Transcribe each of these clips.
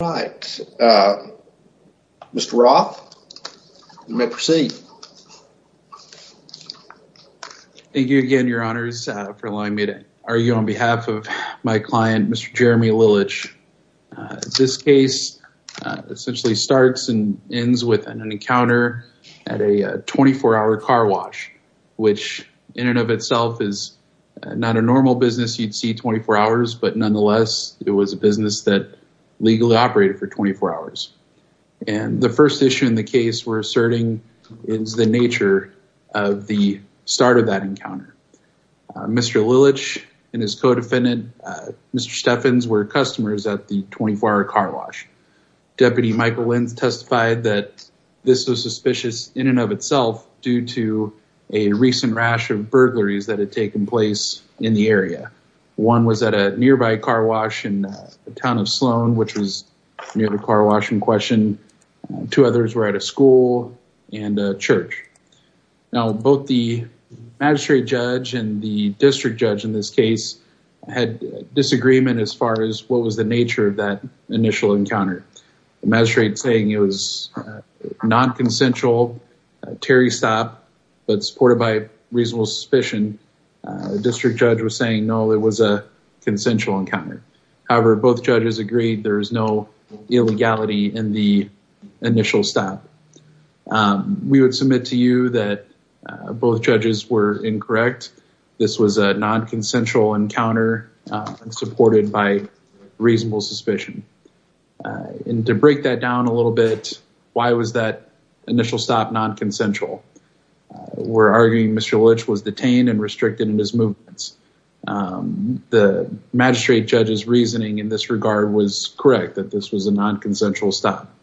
All right. Mr. Roth, you may proceed. Thank you again, your honors, for allowing me to argue on behalf of my client, Mr. Jeremy Lillich. This case essentially starts and ends with an encounter at a 24-hour car wash, which in and of itself is not a normal business. You'd see 24 hours, but nonetheless, it was a business that legally operated for 24 hours. And the first issue in the case we're asserting is the nature of the start of that encounter. Mr. Lillich and his co-defendant, Mr. Steffens, were customers at the 24-hour car wash. Deputy Michael Lins testified that this was suspicious in and of itself due to a recent rash of burglaries that had taken place in the area. One was at a nearby car wash in the town of Sloan, which was near the car wash in question. Two others were at a school and a church. Now, both the magistrate judge and the district judge in this case had disagreement as far as what was the nature of that initial encounter. The magistrate saying it was non-consensual, a Terry stop, but supported by reasonable suspicion. The district judge was saying, no, it was a consensual encounter. However, both judges agreed there is no illegality in the initial stop. We would submit to you that both judges were incorrect. This was a non-consensual encounter and supported by reasonable suspicion. And to break that down a little bit, why was that initial stop non-consensual? We're arguing Mr. Litch was detained and restricted in his movements. The magistrate judge's reasoning in this regard was correct, that this was a non-consensual stop.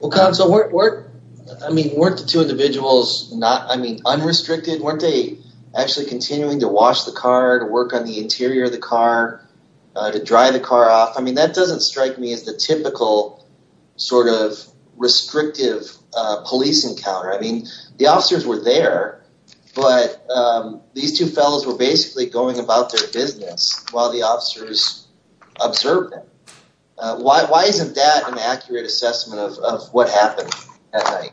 Well, counsel, weren't the two individuals unrestricted? Weren't they actually continuing to wash the car, to work on the interior of the car, to dry the car off? I mean, that doesn't strike me as the typical sort of restrictive police encounter. I mean, the officers were there, but these two fellows were basically going about their business while the officers observed them. Why isn't that an accurate assessment of what happened at night?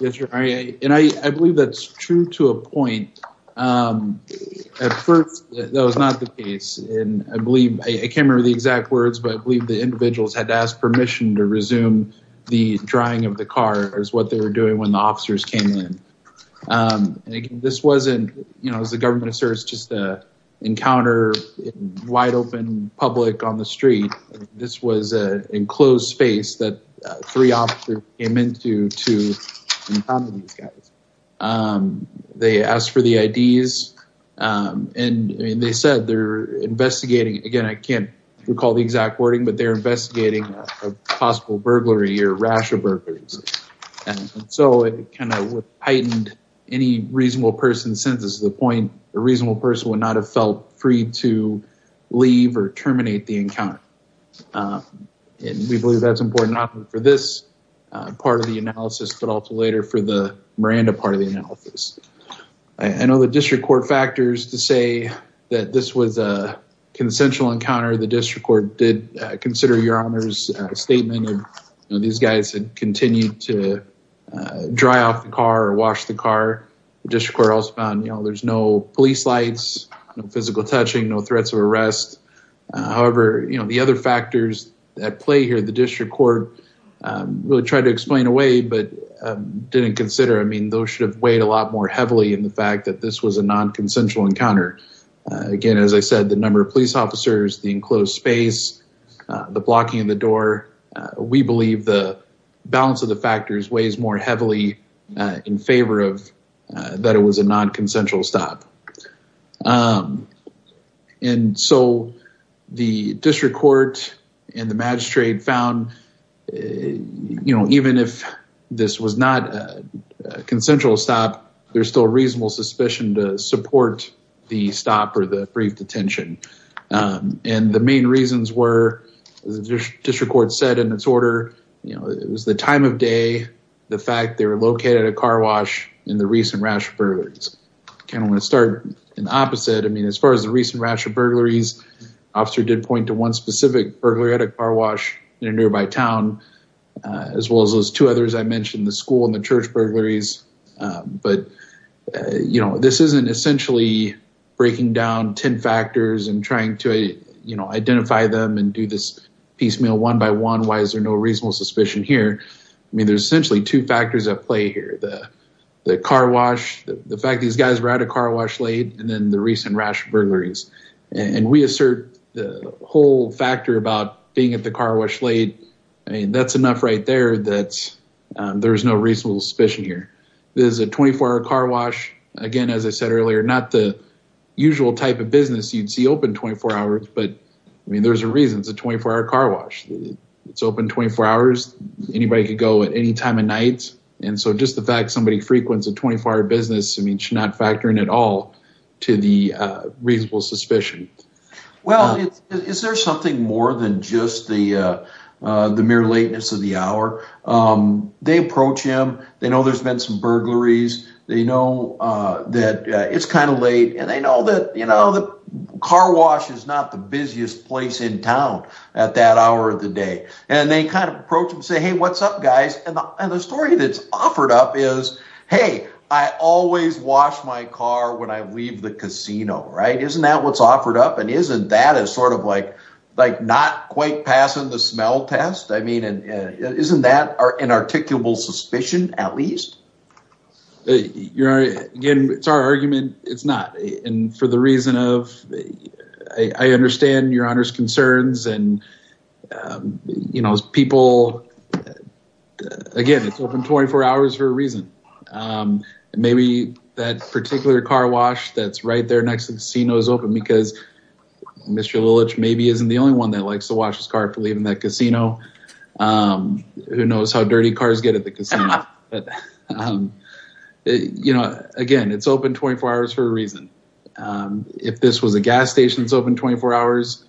Yes, your honor, and I believe that's true to a point. At first, that was not the case. And I believe I can't remember the exact words, but I believe the individuals had to ask permission to resume the drying of the car is what they were doing when the officers came in. This wasn't, you know, as the government asserts, just a encounter in wide open public on the street. This was an enclosed space that three officers came into to encounter these guys. They asked for the IDs and they said they're investigating. Again, I can't recall the exact wording, but they're investigating a possible burglary or rash of burglaries. And so it kind of heightened any reasonable person's senses to the point a reasonable person would not have felt free to leave or terminate the encounter. And we believe that's important for this part of the analysis, but also later for the Miranda part of the analysis. I know the district court factors to say that this was a consensual encounter. The district court did consider your honor's statement. These guys had continued to dry off the car or wash the car. The district court also found there's no police lights, no physical touching, no threats of arrest. However, you know, the other factors at play here, the district court really tried to stop more heavily in the fact that this was a non-consensual encounter. Again, as I said, the number of police officers, the enclosed space, the blocking of the door, we believe the balance of the factors weighs more heavily in favor of that it was a non-consensual stop. And so the district court and the magistrate found, you know, even if this was not a non-consensual encounter, there's still a reasonable suspicion to support the stop or the brief detention. And the main reasons were, as the district court said in its order, you know, it was the time of day, the fact they were located at a car wash in the recent rash of burglaries. I kind of want to start in the opposite. I mean, as far as the recent rash of burglaries, the officer did point to one specific burglary at a car wash in a nearby town, as well as those two others I mentioned, the school and the church burglaries. But, you know, this isn't essentially breaking down 10 factors and trying to, you know, identify them and do this piecemeal one by one. Why is there no reasonable suspicion here? I mean, there's essentially two factors at play here. The car wash, the fact these guys were at a car wash late, and then the recent rash of burglaries. And we assert the whole factor about being at the car wash late. I mean, that's enough right there that there is no reasonable suspicion here. There's a 24-hour car wash. Again, as I said earlier, not the usual type of business you'd see open 24 hours. But I mean, there's a reason it's a 24-hour car wash. It's open 24 hours. Anybody could go at any time of night. And so just the fact somebody frequents a 24-hour business, I mean, should not factor in at all to the reasonable suspicion. Well, is there something more than just the mere lateness of the hour? They approach him. They know there's been some burglaries. They know that it's kind of late. And they know that, you know, the car wash is not the busiest place in town at that hour of the day. And they kind of approach and say, hey, what's up, guys? And the story that's offered up is, hey, I always wash my car when I leave the casino. Right. Isn't that what's offered up? And isn't that a sort of like not quite passing the smell test? I mean, isn't that an articulable suspicion at least? Again, it's our argument. It's not. And for the reason of I understand Your Honor's concerns and, you know, as people. Again, it's open 24 hours for a reason. Maybe that particular car wash that's right there next to the casino is open because Mr. Lillich maybe isn't the only one that likes to wash his car for leaving that casino. Who knows how dirty cars get at the casino? You know, again, it's open 24 hours for a reason. If this was a gas station, it's open 24 hours.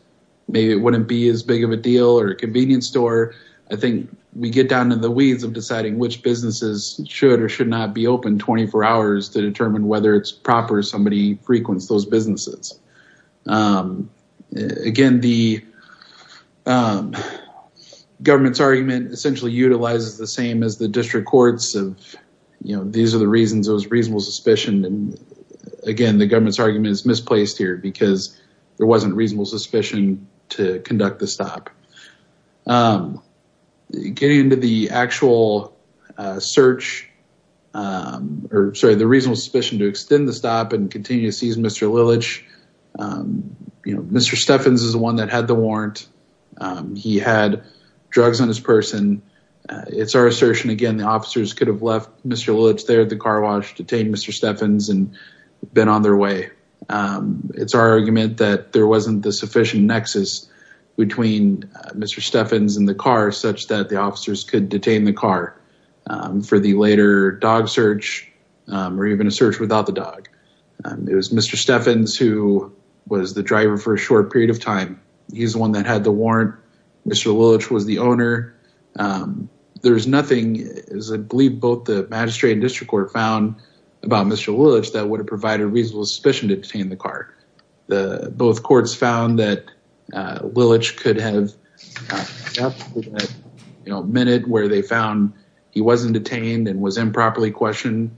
Maybe it wouldn't be as big of a deal or a convenience store. I think we get down in the weeds of deciding which businesses should or should not be open 24 hours to determine whether it's proper somebody frequents those businesses. Again, the government's argument essentially utilizes the same as the district courts. These are the reasons it was reasonable suspicion. Again, the government's argument is misplaced here because there wasn't reasonable suspicion to conduct the stop. Getting into the actual search, or sorry, the reasonable suspicion to extend the stop and continue to seize Mr. Lillich, you know, Mr. Steffens is the one that had the warrant. He had drugs on his person. It's our assertion. Again, the officers could have left Mr. Lillich there at the car wash, detained Mr. Steffens and been on their way. It's our argument that there wasn't the sufficient nexus between Mr. Steffens and the car such that the officers could detain the car for the later dog search or even a search without the dog. It was Mr. Steffens who was the driver for a short period of time. He's the one that had the warrant. Mr. Lillich was the owner. There's nothing, as I believe both the magistrate and district court found about Mr. Lillich that would have provided reasonable suspicion to detain the car. Both courts found that Lillich could have left at a minute where they found he wasn't detained and was improperly questioned.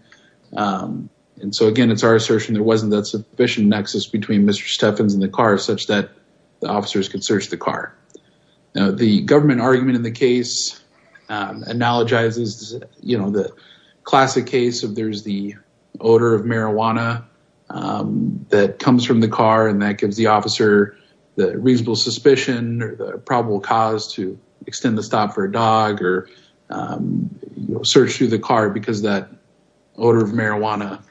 And so again, it's our assertion. There wasn't that sufficient nexus between Mr. Steffens and the car such that the officers could search the car. Now the government argument in the case analogizes, you know, the classic case of there's the odor of marijuana that comes from the car and that gives the officer the reasonable suspicion or the probable cause to extend the stop for a dog or search through the car because that odor of marijuana.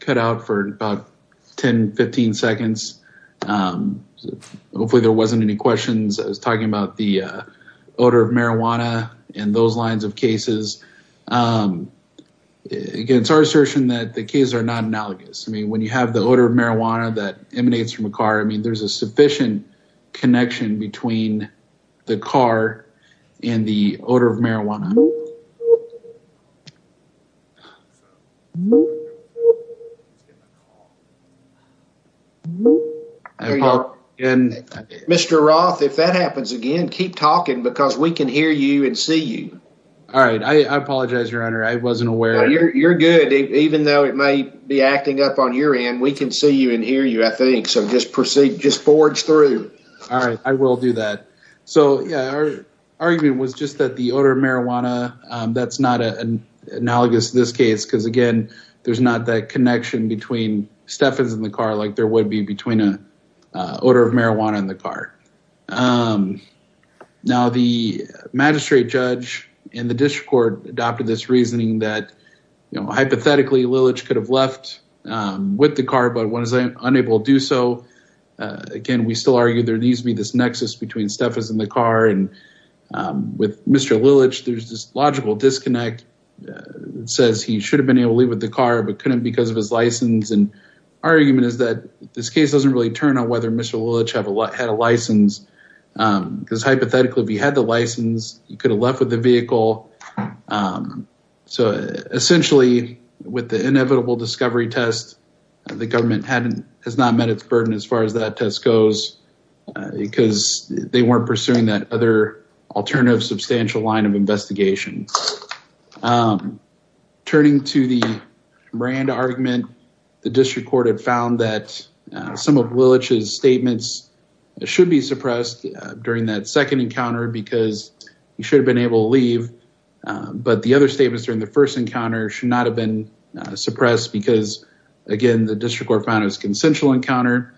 Cut out for about 10, 15 seconds. Hopefully there wasn't any questions. I was talking about the odor of marijuana and those lines of cases. Again, it's our assertion that the cases are not analogous. I mean, when you have the odor of marijuana that emanates from a car, I mean, there's a lot of things that are analogous to that and the odor of marijuana and Mr. Roth, if that happens again, keep talking because we can hear you and see you. All right. I apologize, Your Honor. I wasn't aware. You're good, even though it may be acting up on your end. We can see you and hear you, I think. So just proceed. Just forge through. All right. I will do that. So our argument was just that the odor of marijuana, that's not analogous to this case because, again, there's not that connection between Stefan's in the car like there would be between an odor of marijuana in the car. Now, the magistrate judge in the district court adopted this reasoning that, you know, hypothetically, Lilich could have left with the car, but was unable to do so. Again, we still argue there needs to be this nexus between Stefan's in the car and with Mr. Lilich, there's this logical disconnect that says he should have been able to leave with the car, but couldn't because of his license. And our argument is that this case doesn't really turn on whether Mr. Lilich had a license because hypothetically, if he had the license, he could have left with the vehicle. So essentially, with the inevitable discovery test, the government has not met its burden as far as that test goes because they weren't pursuing that other alternative substantial line of investigation. Turning to the brand argument, the district court had found that some of Lilich's statements should be suppressed during that second encounter because he should have been able to leave. But the other statements during the first encounter should not have been on his consensual encounter,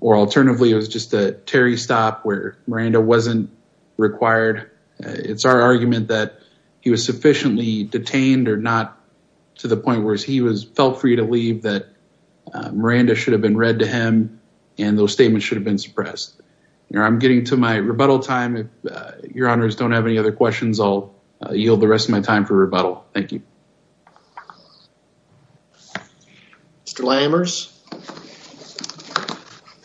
or alternatively, it was just a Terry stop where Miranda wasn't required. It's our argument that he was sufficiently detained or not to the point where he was felt free to leave that Miranda should have been read to him and those statements should have been suppressed. I'm getting to my rebuttal time. If your honors don't have any other questions, I'll yield the rest of my time for rebuttal. Thank you. Mr. Lammers.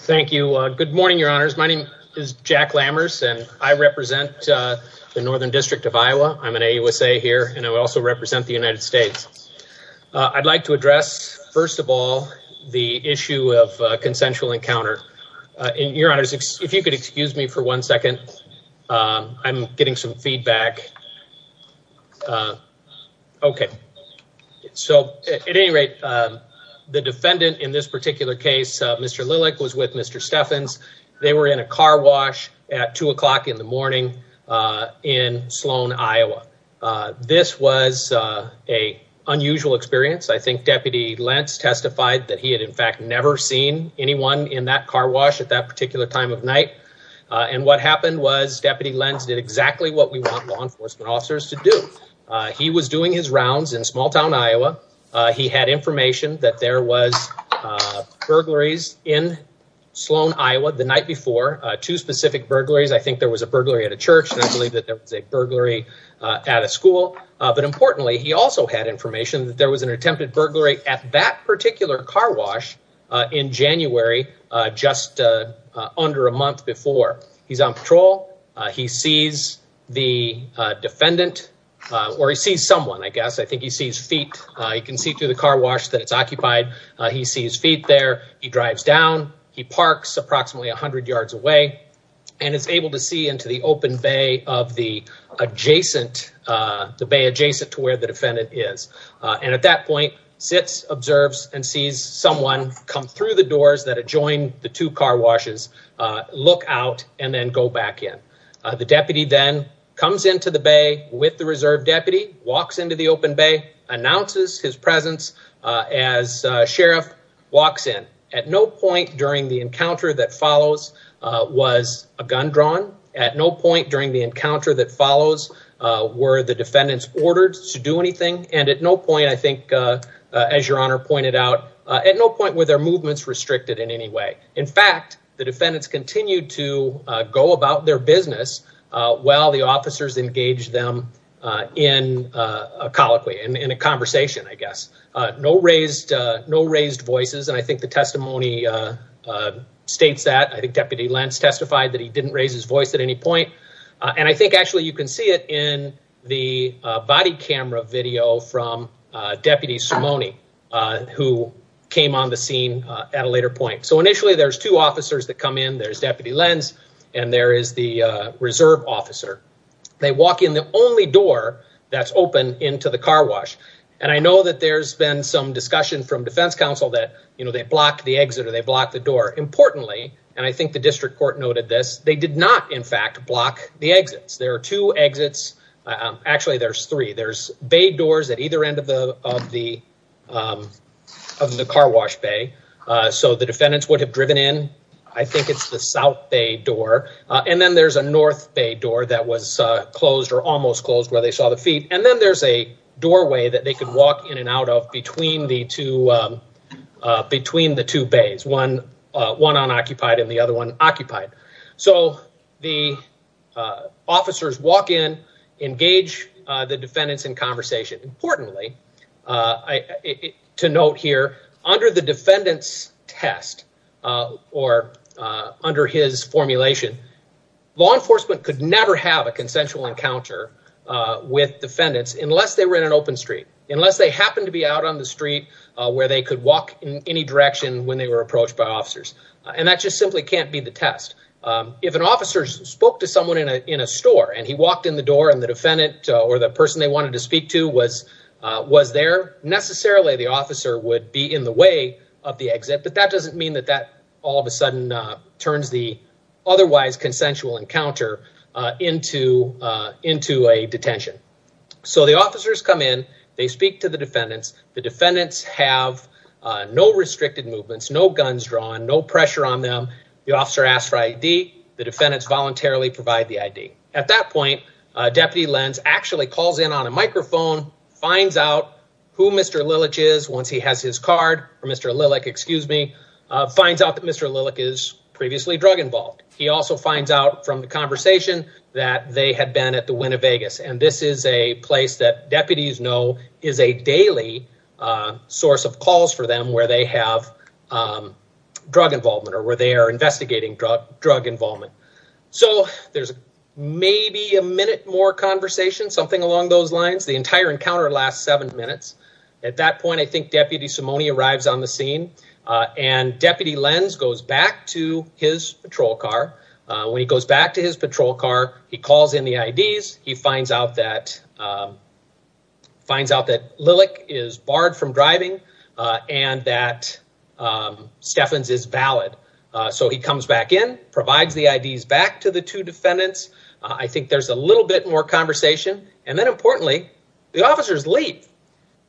Thank you. Good morning, your honors. My name is Jack Lammers and I represent the Northern District of Iowa. I'm an AUSA here and I also represent the United States. I'd like to address, first of all, the issue of consensual encounter. And your honors, if you could excuse me for one second, I'm getting some feedback. OK, so at any rate, the defendant in this particular case, Mr. Lillick was with Mr. Steffens. They were in a car wash at two o'clock in the morning in Sloan, Iowa. This was a unusual experience. I think Deputy Lentz testified that he had, in fact, never seen anyone in that car wash at that particular time of night. And what happened was Deputy Lentz did exactly what we want law enforcement officers to do. He was doing his rounds in small town, Iowa. He had information that there was burglaries in Sloan, Iowa the night before. Two specific burglaries. I think there was a burglary at a church and I believe that there was a burglary at a school. But importantly, he also had information that there was an attempted burglary at that particular car wash in January, just under a month before. He's on patrol. He sees the defendant or he sees someone, I guess. I think he sees feet. He can see through the car wash that it's occupied. He sees feet there. He drives down. He parks approximately 100 yards away and is able to see into the open bay of the adjacent, the bay adjacent to where the defendant is. And at that point, sits, observes and sees someone come through the doors that adjoin the two car washes, look out and then go back in. The deputy then comes into the bay with the reserve deputy, walks into the open bay, announces his presence as sheriff, walks in. At no point during the encounter that follows was a gun drawn. At no point during the encounter that follows were the defendants ordered to do anything. And at no point, I think, as your honor pointed out, at no point were their movements restricted in any way. In fact, the defendants continued to go about their business while the officers engaged them in a colloquy, in a conversation, I guess. No raised, no raised voices. And I think the testimony states that. I think Deputy Lentz testified that he didn't raise his voice at any point. And I think actually you can see it in the body camera video from Deputy Simone, who came on the scene at a later point. So initially there's two officers that come in. There's Deputy Lentz and there is the reserve officer. They walk in the only door that's open into the car wash. And I know that there's been some discussion from defense counsel that, you know, they blocked the exit or they blocked the door. Importantly, and I think the district court noted this, they did not, in fact, block the exits. There are two exits. Actually, there's three. There's bay doors at either end of the of the of the car wash bay. So the defendants would have driven in. I think it's the South Bay door. And then there's a North Bay door that was closed or almost closed where they saw the feet. And then there's a doorway that they could walk in and out of between the two between the two bays, one unoccupied and the other one occupied. So the officers walk in, engage the defendants in conversation. Importantly, to note here, under the defendant's test or under his formulation, law enforcement could never have a consensual encounter with defendants unless they were in an open street, unless they happened to be out on the street where they could walk in any direction when they were approached by officers. And that just simply can't be the test. If an officer spoke to someone in a store and he walked in the door and the defendant or the person they wanted to speak to was there, necessarily the officer would be in the way of the exit. But that doesn't mean that that all of a sudden turns the otherwise consensual encounter into a detention. So the officers come in, they speak to the defendants. The defendants have no restricted movements, no guns drawn, no pressure on them. The officer asks for ID, the defendants voluntarily provide the ID. At that point, Deputy Lenz actually calls in on a microphone, finds out who Mr. Lilich is once he has his card or Mr. Lilich, excuse me, finds out that Mr. Lilich is previously drug involved. He also finds out from the conversation that they had been at the Winnevegas. And this is a place that deputies know is a daily source of calls for them where they have drug involvement or where they are investigating drug involvement. So there's maybe a minute more conversation, something along those lines. The entire encounter lasts seven minutes. At that point, I think Deputy Simone arrives on the scene and Deputy Lenz goes back to his patrol car. When he goes back to his patrol car, he calls in the IDs. He finds out that Lilich is barred from driving and that Steffens is valid. So he comes back in, provides the IDs back to the two defendants. I think there's a little bit more conversation. And then importantly, the officers leave.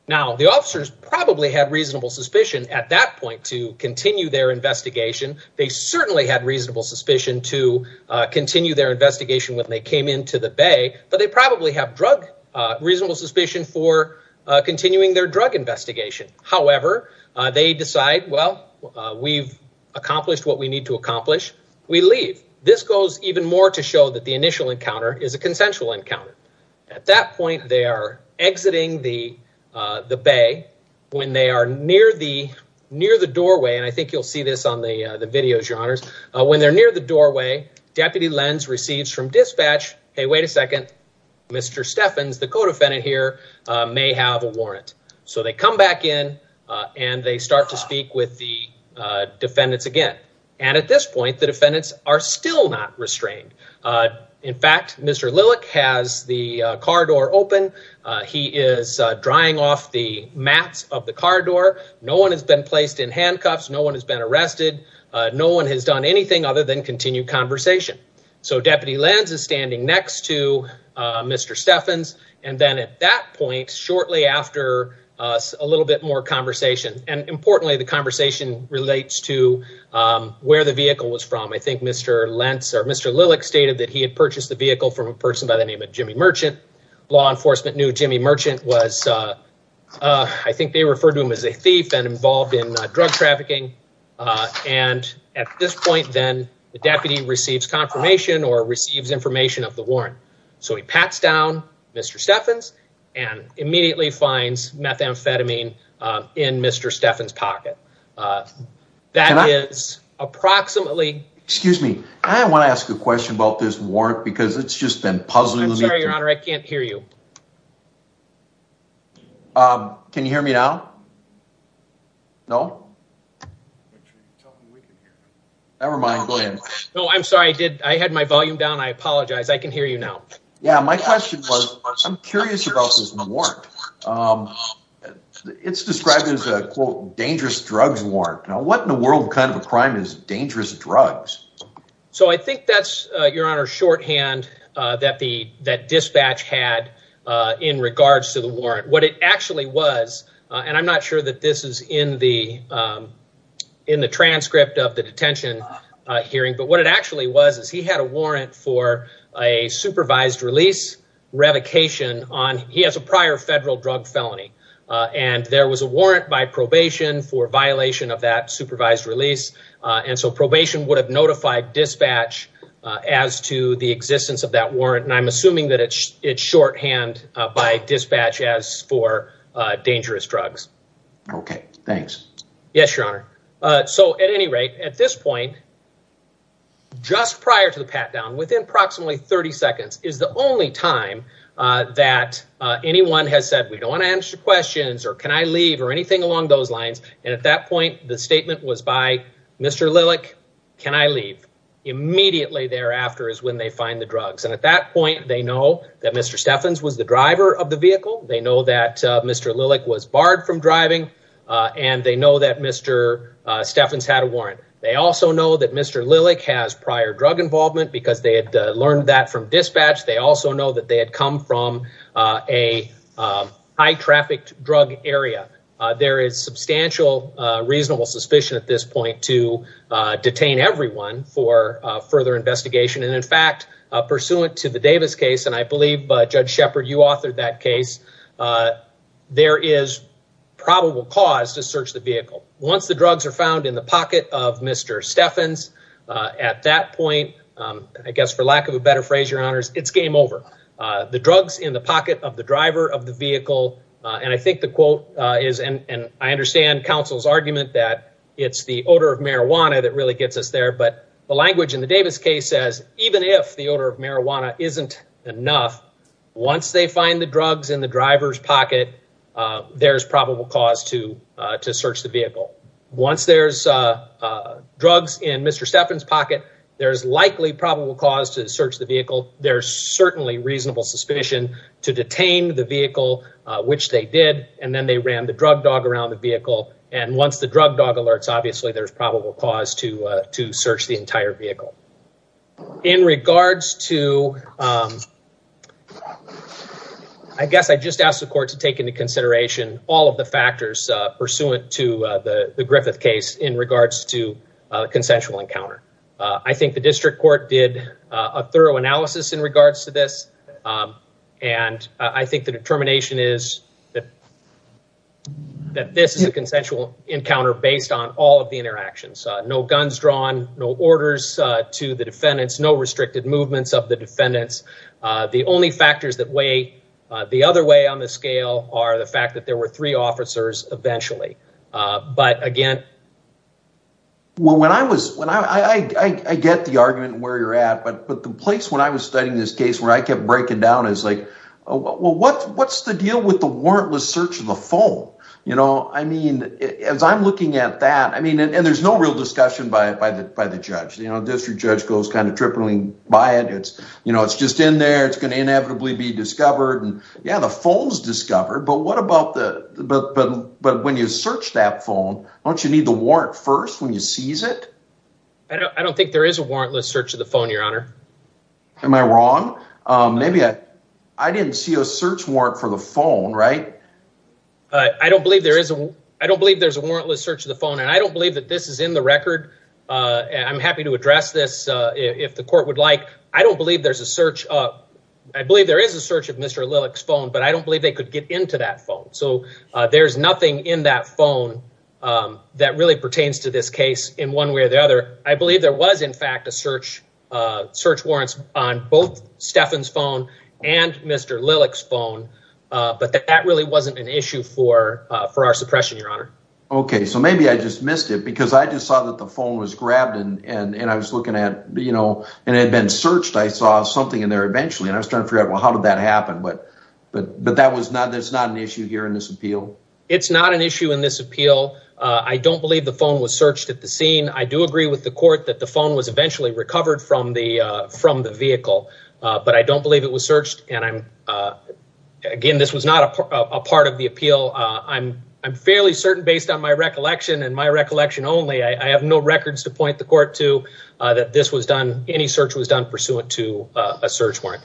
Now, the officers probably had reasonable suspicion at that point to continue their investigation. They certainly had reasonable suspicion to continue their investigation when they came into the bay, but they probably have drug reasonable suspicion for continuing their drug investigation. However, they decide, well, we've accomplished what we need to accomplish. We leave. This goes even more to show that the initial encounter is a consensual encounter. At that point, they are exiting the bay when they are near the doorway. And I think you'll see this on the videos, your honors. When they're near the doorway, Deputy Lenz receives from dispatch, hey, wait a second. Mr. Steffens, the co-defendant here, may have a warrant. So they come back in and they start to speak with the defendants again. And at this point, the defendants are still not restrained. In fact, Mr. Lilich has the car door open. He is drying off the mats of the car door. No one has been placed in handcuffs. No one has been arrested. No one has done anything other than continue conversation. So Deputy Lenz is standing next to Mr. Steffens. And then at that point, shortly after a little bit more conversation and importantly, the conversation relates to where the vehicle was from. I think Mr. Lenz or Mr. Lilich stated that he had purchased the vehicle from a person by the name of Jimmy Merchant. Law enforcement knew Jimmy Merchant was, I think they referred to him as a thief and involved in drug trafficking. And at this point, then the deputy receives confirmation or receives information of the warrant. So he pats down Mr. Steffens and immediately finds methamphetamine in Mr. Steffens' pocket. That is approximately. Excuse me. I want to ask a question about this warrant because it's just been puzzling. I'm sorry, Your Honor, I can't hear you. Can you hear me now? No. Never mind, go ahead. No, I'm sorry. I did. I had my volume down. I apologize. I can hear you now. Yeah, my question was, I'm curious about this warrant. It's described as a quote, dangerous drugs warrant. Now, what in the world kind of a crime is dangerous drugs? So I think that's, Your Honor, shorthand that the that dispatch had in regards to the in the transcript of the detention hearing. But what it actually was is he had a warrant for a supervised release revocation on he has a prior federal drug felony. And there was a warrant by probation for violation of that supervised release. And so probation would have notified dispatch as to the existence of that warrant. And I'm assuming that it's shorthand by dispatch as for dangerous drugs. OK, thanks. Yes, Your Honor. So at any rate, at this point, just prior to the pat down, within approximately 30 seconds is the only time that anyone has said, we don't want to answer questions or can I leave or anything along those lines. And at that point, the statement was by Mr. Lilick, can I leave? Immediately thereafter is when they find the drugs. And at that point, they know that Mr. Steffens was the driver of the vehicle. They know that Mr. Lilick was barred from driving and they know that Mr. Steffens had a warrant. They also know that Mr. Lilick has prior drug involvement because they had learned that from dispatch. They also know that they had come from a high trafficked drug area. There is substantial reasonable suspicion at this point to detain everyone for further investigation. And in fact, pursuant to the Davis case, and I believe, Judge Shepherd, you authored that case, there is probable cause to search the vehicle. Once the drugs are found in the pocket of Mr. Steffens, at that point, I guess for lack of a better phrase, Your Honors, it's game over. The drugs in the pocket of the driver of the vehicle. And I think the quote is, and I understand counsel's argument that it's the odor of marijuana that really gets us there. But the language in the Davis case says, even if the odor of marijuana isn't enough, once they find the drugs in the driver's pocket, there's probable cause to search the vehicle. Once there's drugs in Mr. Steffens' pocket, there's likely probable cause to search the vehicle. There's certainly reasonable suspicion to detain the vehicle, which they did. And then they ran the drug dog around the vehicle. And once the drug dog alerts, obviously there's probable cause to search the entire vehicle. I guess I just asked the court to take into consideration all of the factors pursuant to the Griffith case in regards to consensual encounter. I think the district court did a thorough analysis in regards to this. And I think the determination is that this is a consensual encounter based on all of the interactions. No guns drawn, no orders to the defendants, no restricted movements of the defendants. The only factors that weigh the other way on the scale are the fact that there were three officers eventually. But again. Well, when I was when I get the argument where you're at, but the place when I was studying this case where I kept breaking down is like, well, what's the deal with the warrantless search of the phone? You know, I mean, as I'm looking at that, I mean, and there's no real discussion by the judge, you know, district judge goes kind of tripling by it. It's you know, it's just in there. It's going to inevitably be discovered. And yeah, the phone's discovered. But what about the but but but when you search that phone, don't you need the warrant first when you seize it? I don't think there is a warrantless search of the phone, Your Honor. Am I wrong? Maybe I didn't see a search warrant for the phone, right? I don't believe there is. I don't believe there's a warrantless search of the phone. And I don't believe that this is in the record. And I'm happy to address this if the court would like. I don't believe there's a search. I believe there is a search of Mr. Lillick's phone, but I don't believe they could get into that phone. So there's nothing in that phone that really pertains to this case in one way or the other. I believe there was, in fact, a search search warrants on both Stefan's phone and Mr. Lillick's phone. But that really wasn't an issue for for our suppression, Your Honor. OK, so maybe I just missed it because I just saw that the phone was grabbed and I was looking at, you know, and it had been searched. I saw something in there eventually and I was trying to figure out, well, how did that happen? But that was not an issue here in this appeal. It's not an issue in this appeal. I don't believe the phone was searched at the scene. I do agree with the court that the phone was eventually recovered from the vehicle, but I don't believe it was searched. And again, this was not a part of the appeal. I'm I'm fairly certain based on my recollection and my recollection only, I have no records to point the court to that this was done, any search was done pursuant to a search warrant.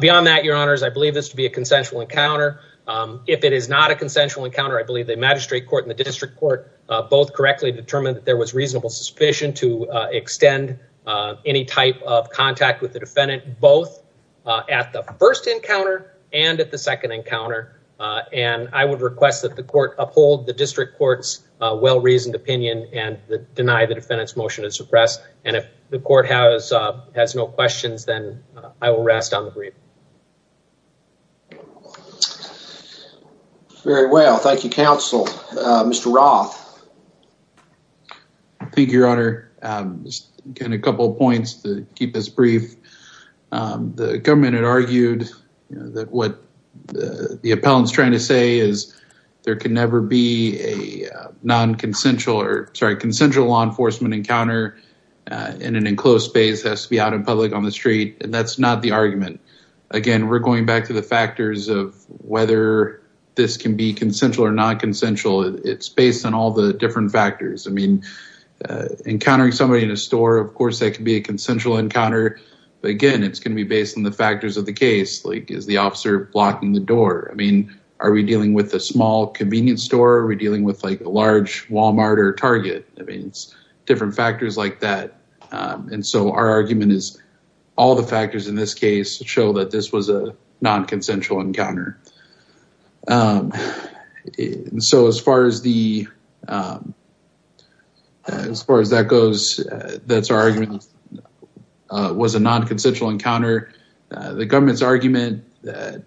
Beyond that, Your Honors, I believe this to be a consensual encounter. If it is not a consensual encounter, I believe the magistrate court and the district court both correctly determined that there was reasonable suspicion to extend any type of contact with the defendant, both at the first encounter and at the second encounter. And I would request that the court uphold the district court's well-reasoned opinion and deny the defendant's motion to suppress. And if the court has has no questions, then I will rest on the brief. Very well, thank you, counsel. Mr. Roth. Thank you, Your Honor. Again, a couple of points to keep this brief. The government had argued that what the appellant's trying to say is there can never be a non-consensual or sorry, consensual law enforcement encounter in an enclosed space has to be out in public on the street. And that's not the argument. Again, we're going back to the factors of whether this can be consensual or non-consensual. It's based on all the different factors. I mean, encountering somebody in a store, of course, that can be a consensual encounter. But again, it's going to be based on the factors of the case. Like, is the officer blocking the door? I mean, are we dealing with a small convenience store? Are we dealing with like a large Walmart or Target? I mean, it's different factors like that. And so our argument is all the factors in this case show that this was a non-consensual encounter. And so as far as that goes, that's our argument, was a non-consensual encounter. The government's argument that,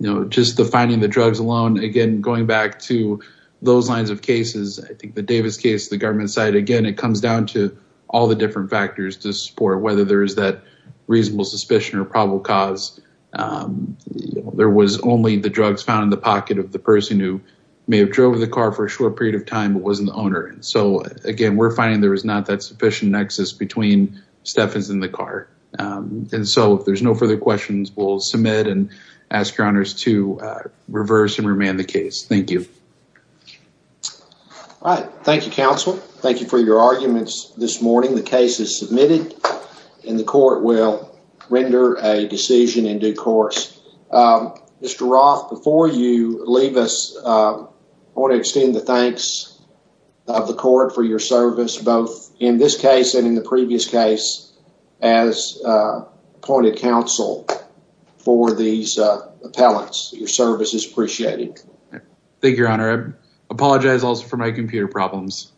you know, just the finding the drugs alone, again, going back to those lines of cases, I think the Davis case, the government side, again, it comes down to all the different factors to support whether there is that reasonable suspicion or probable cause. There was only the drugs found in the pocket of the person who may have drove the car for a short period of time, but wasn't the owner. And so, again, we're finding there is not that sufficient nexus between Stephens and the car. And so if there's no further questions, we'll submit and ask your honors to reverse and remand the case. Thank you. All right. Thank you, counsel. Thank you for your arguments this morning. The case is submitted and the court will render a decision in due course. Mr. Roth, before you leave us, I want to extend the thanks of the court for your service, both in this case and in the previous case, as appointed counsel for these appellants. Your service is appreciated. Thank you, your honor. I apologize also for my computer problems.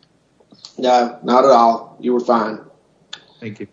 No, not at all. You were fine. Thank you.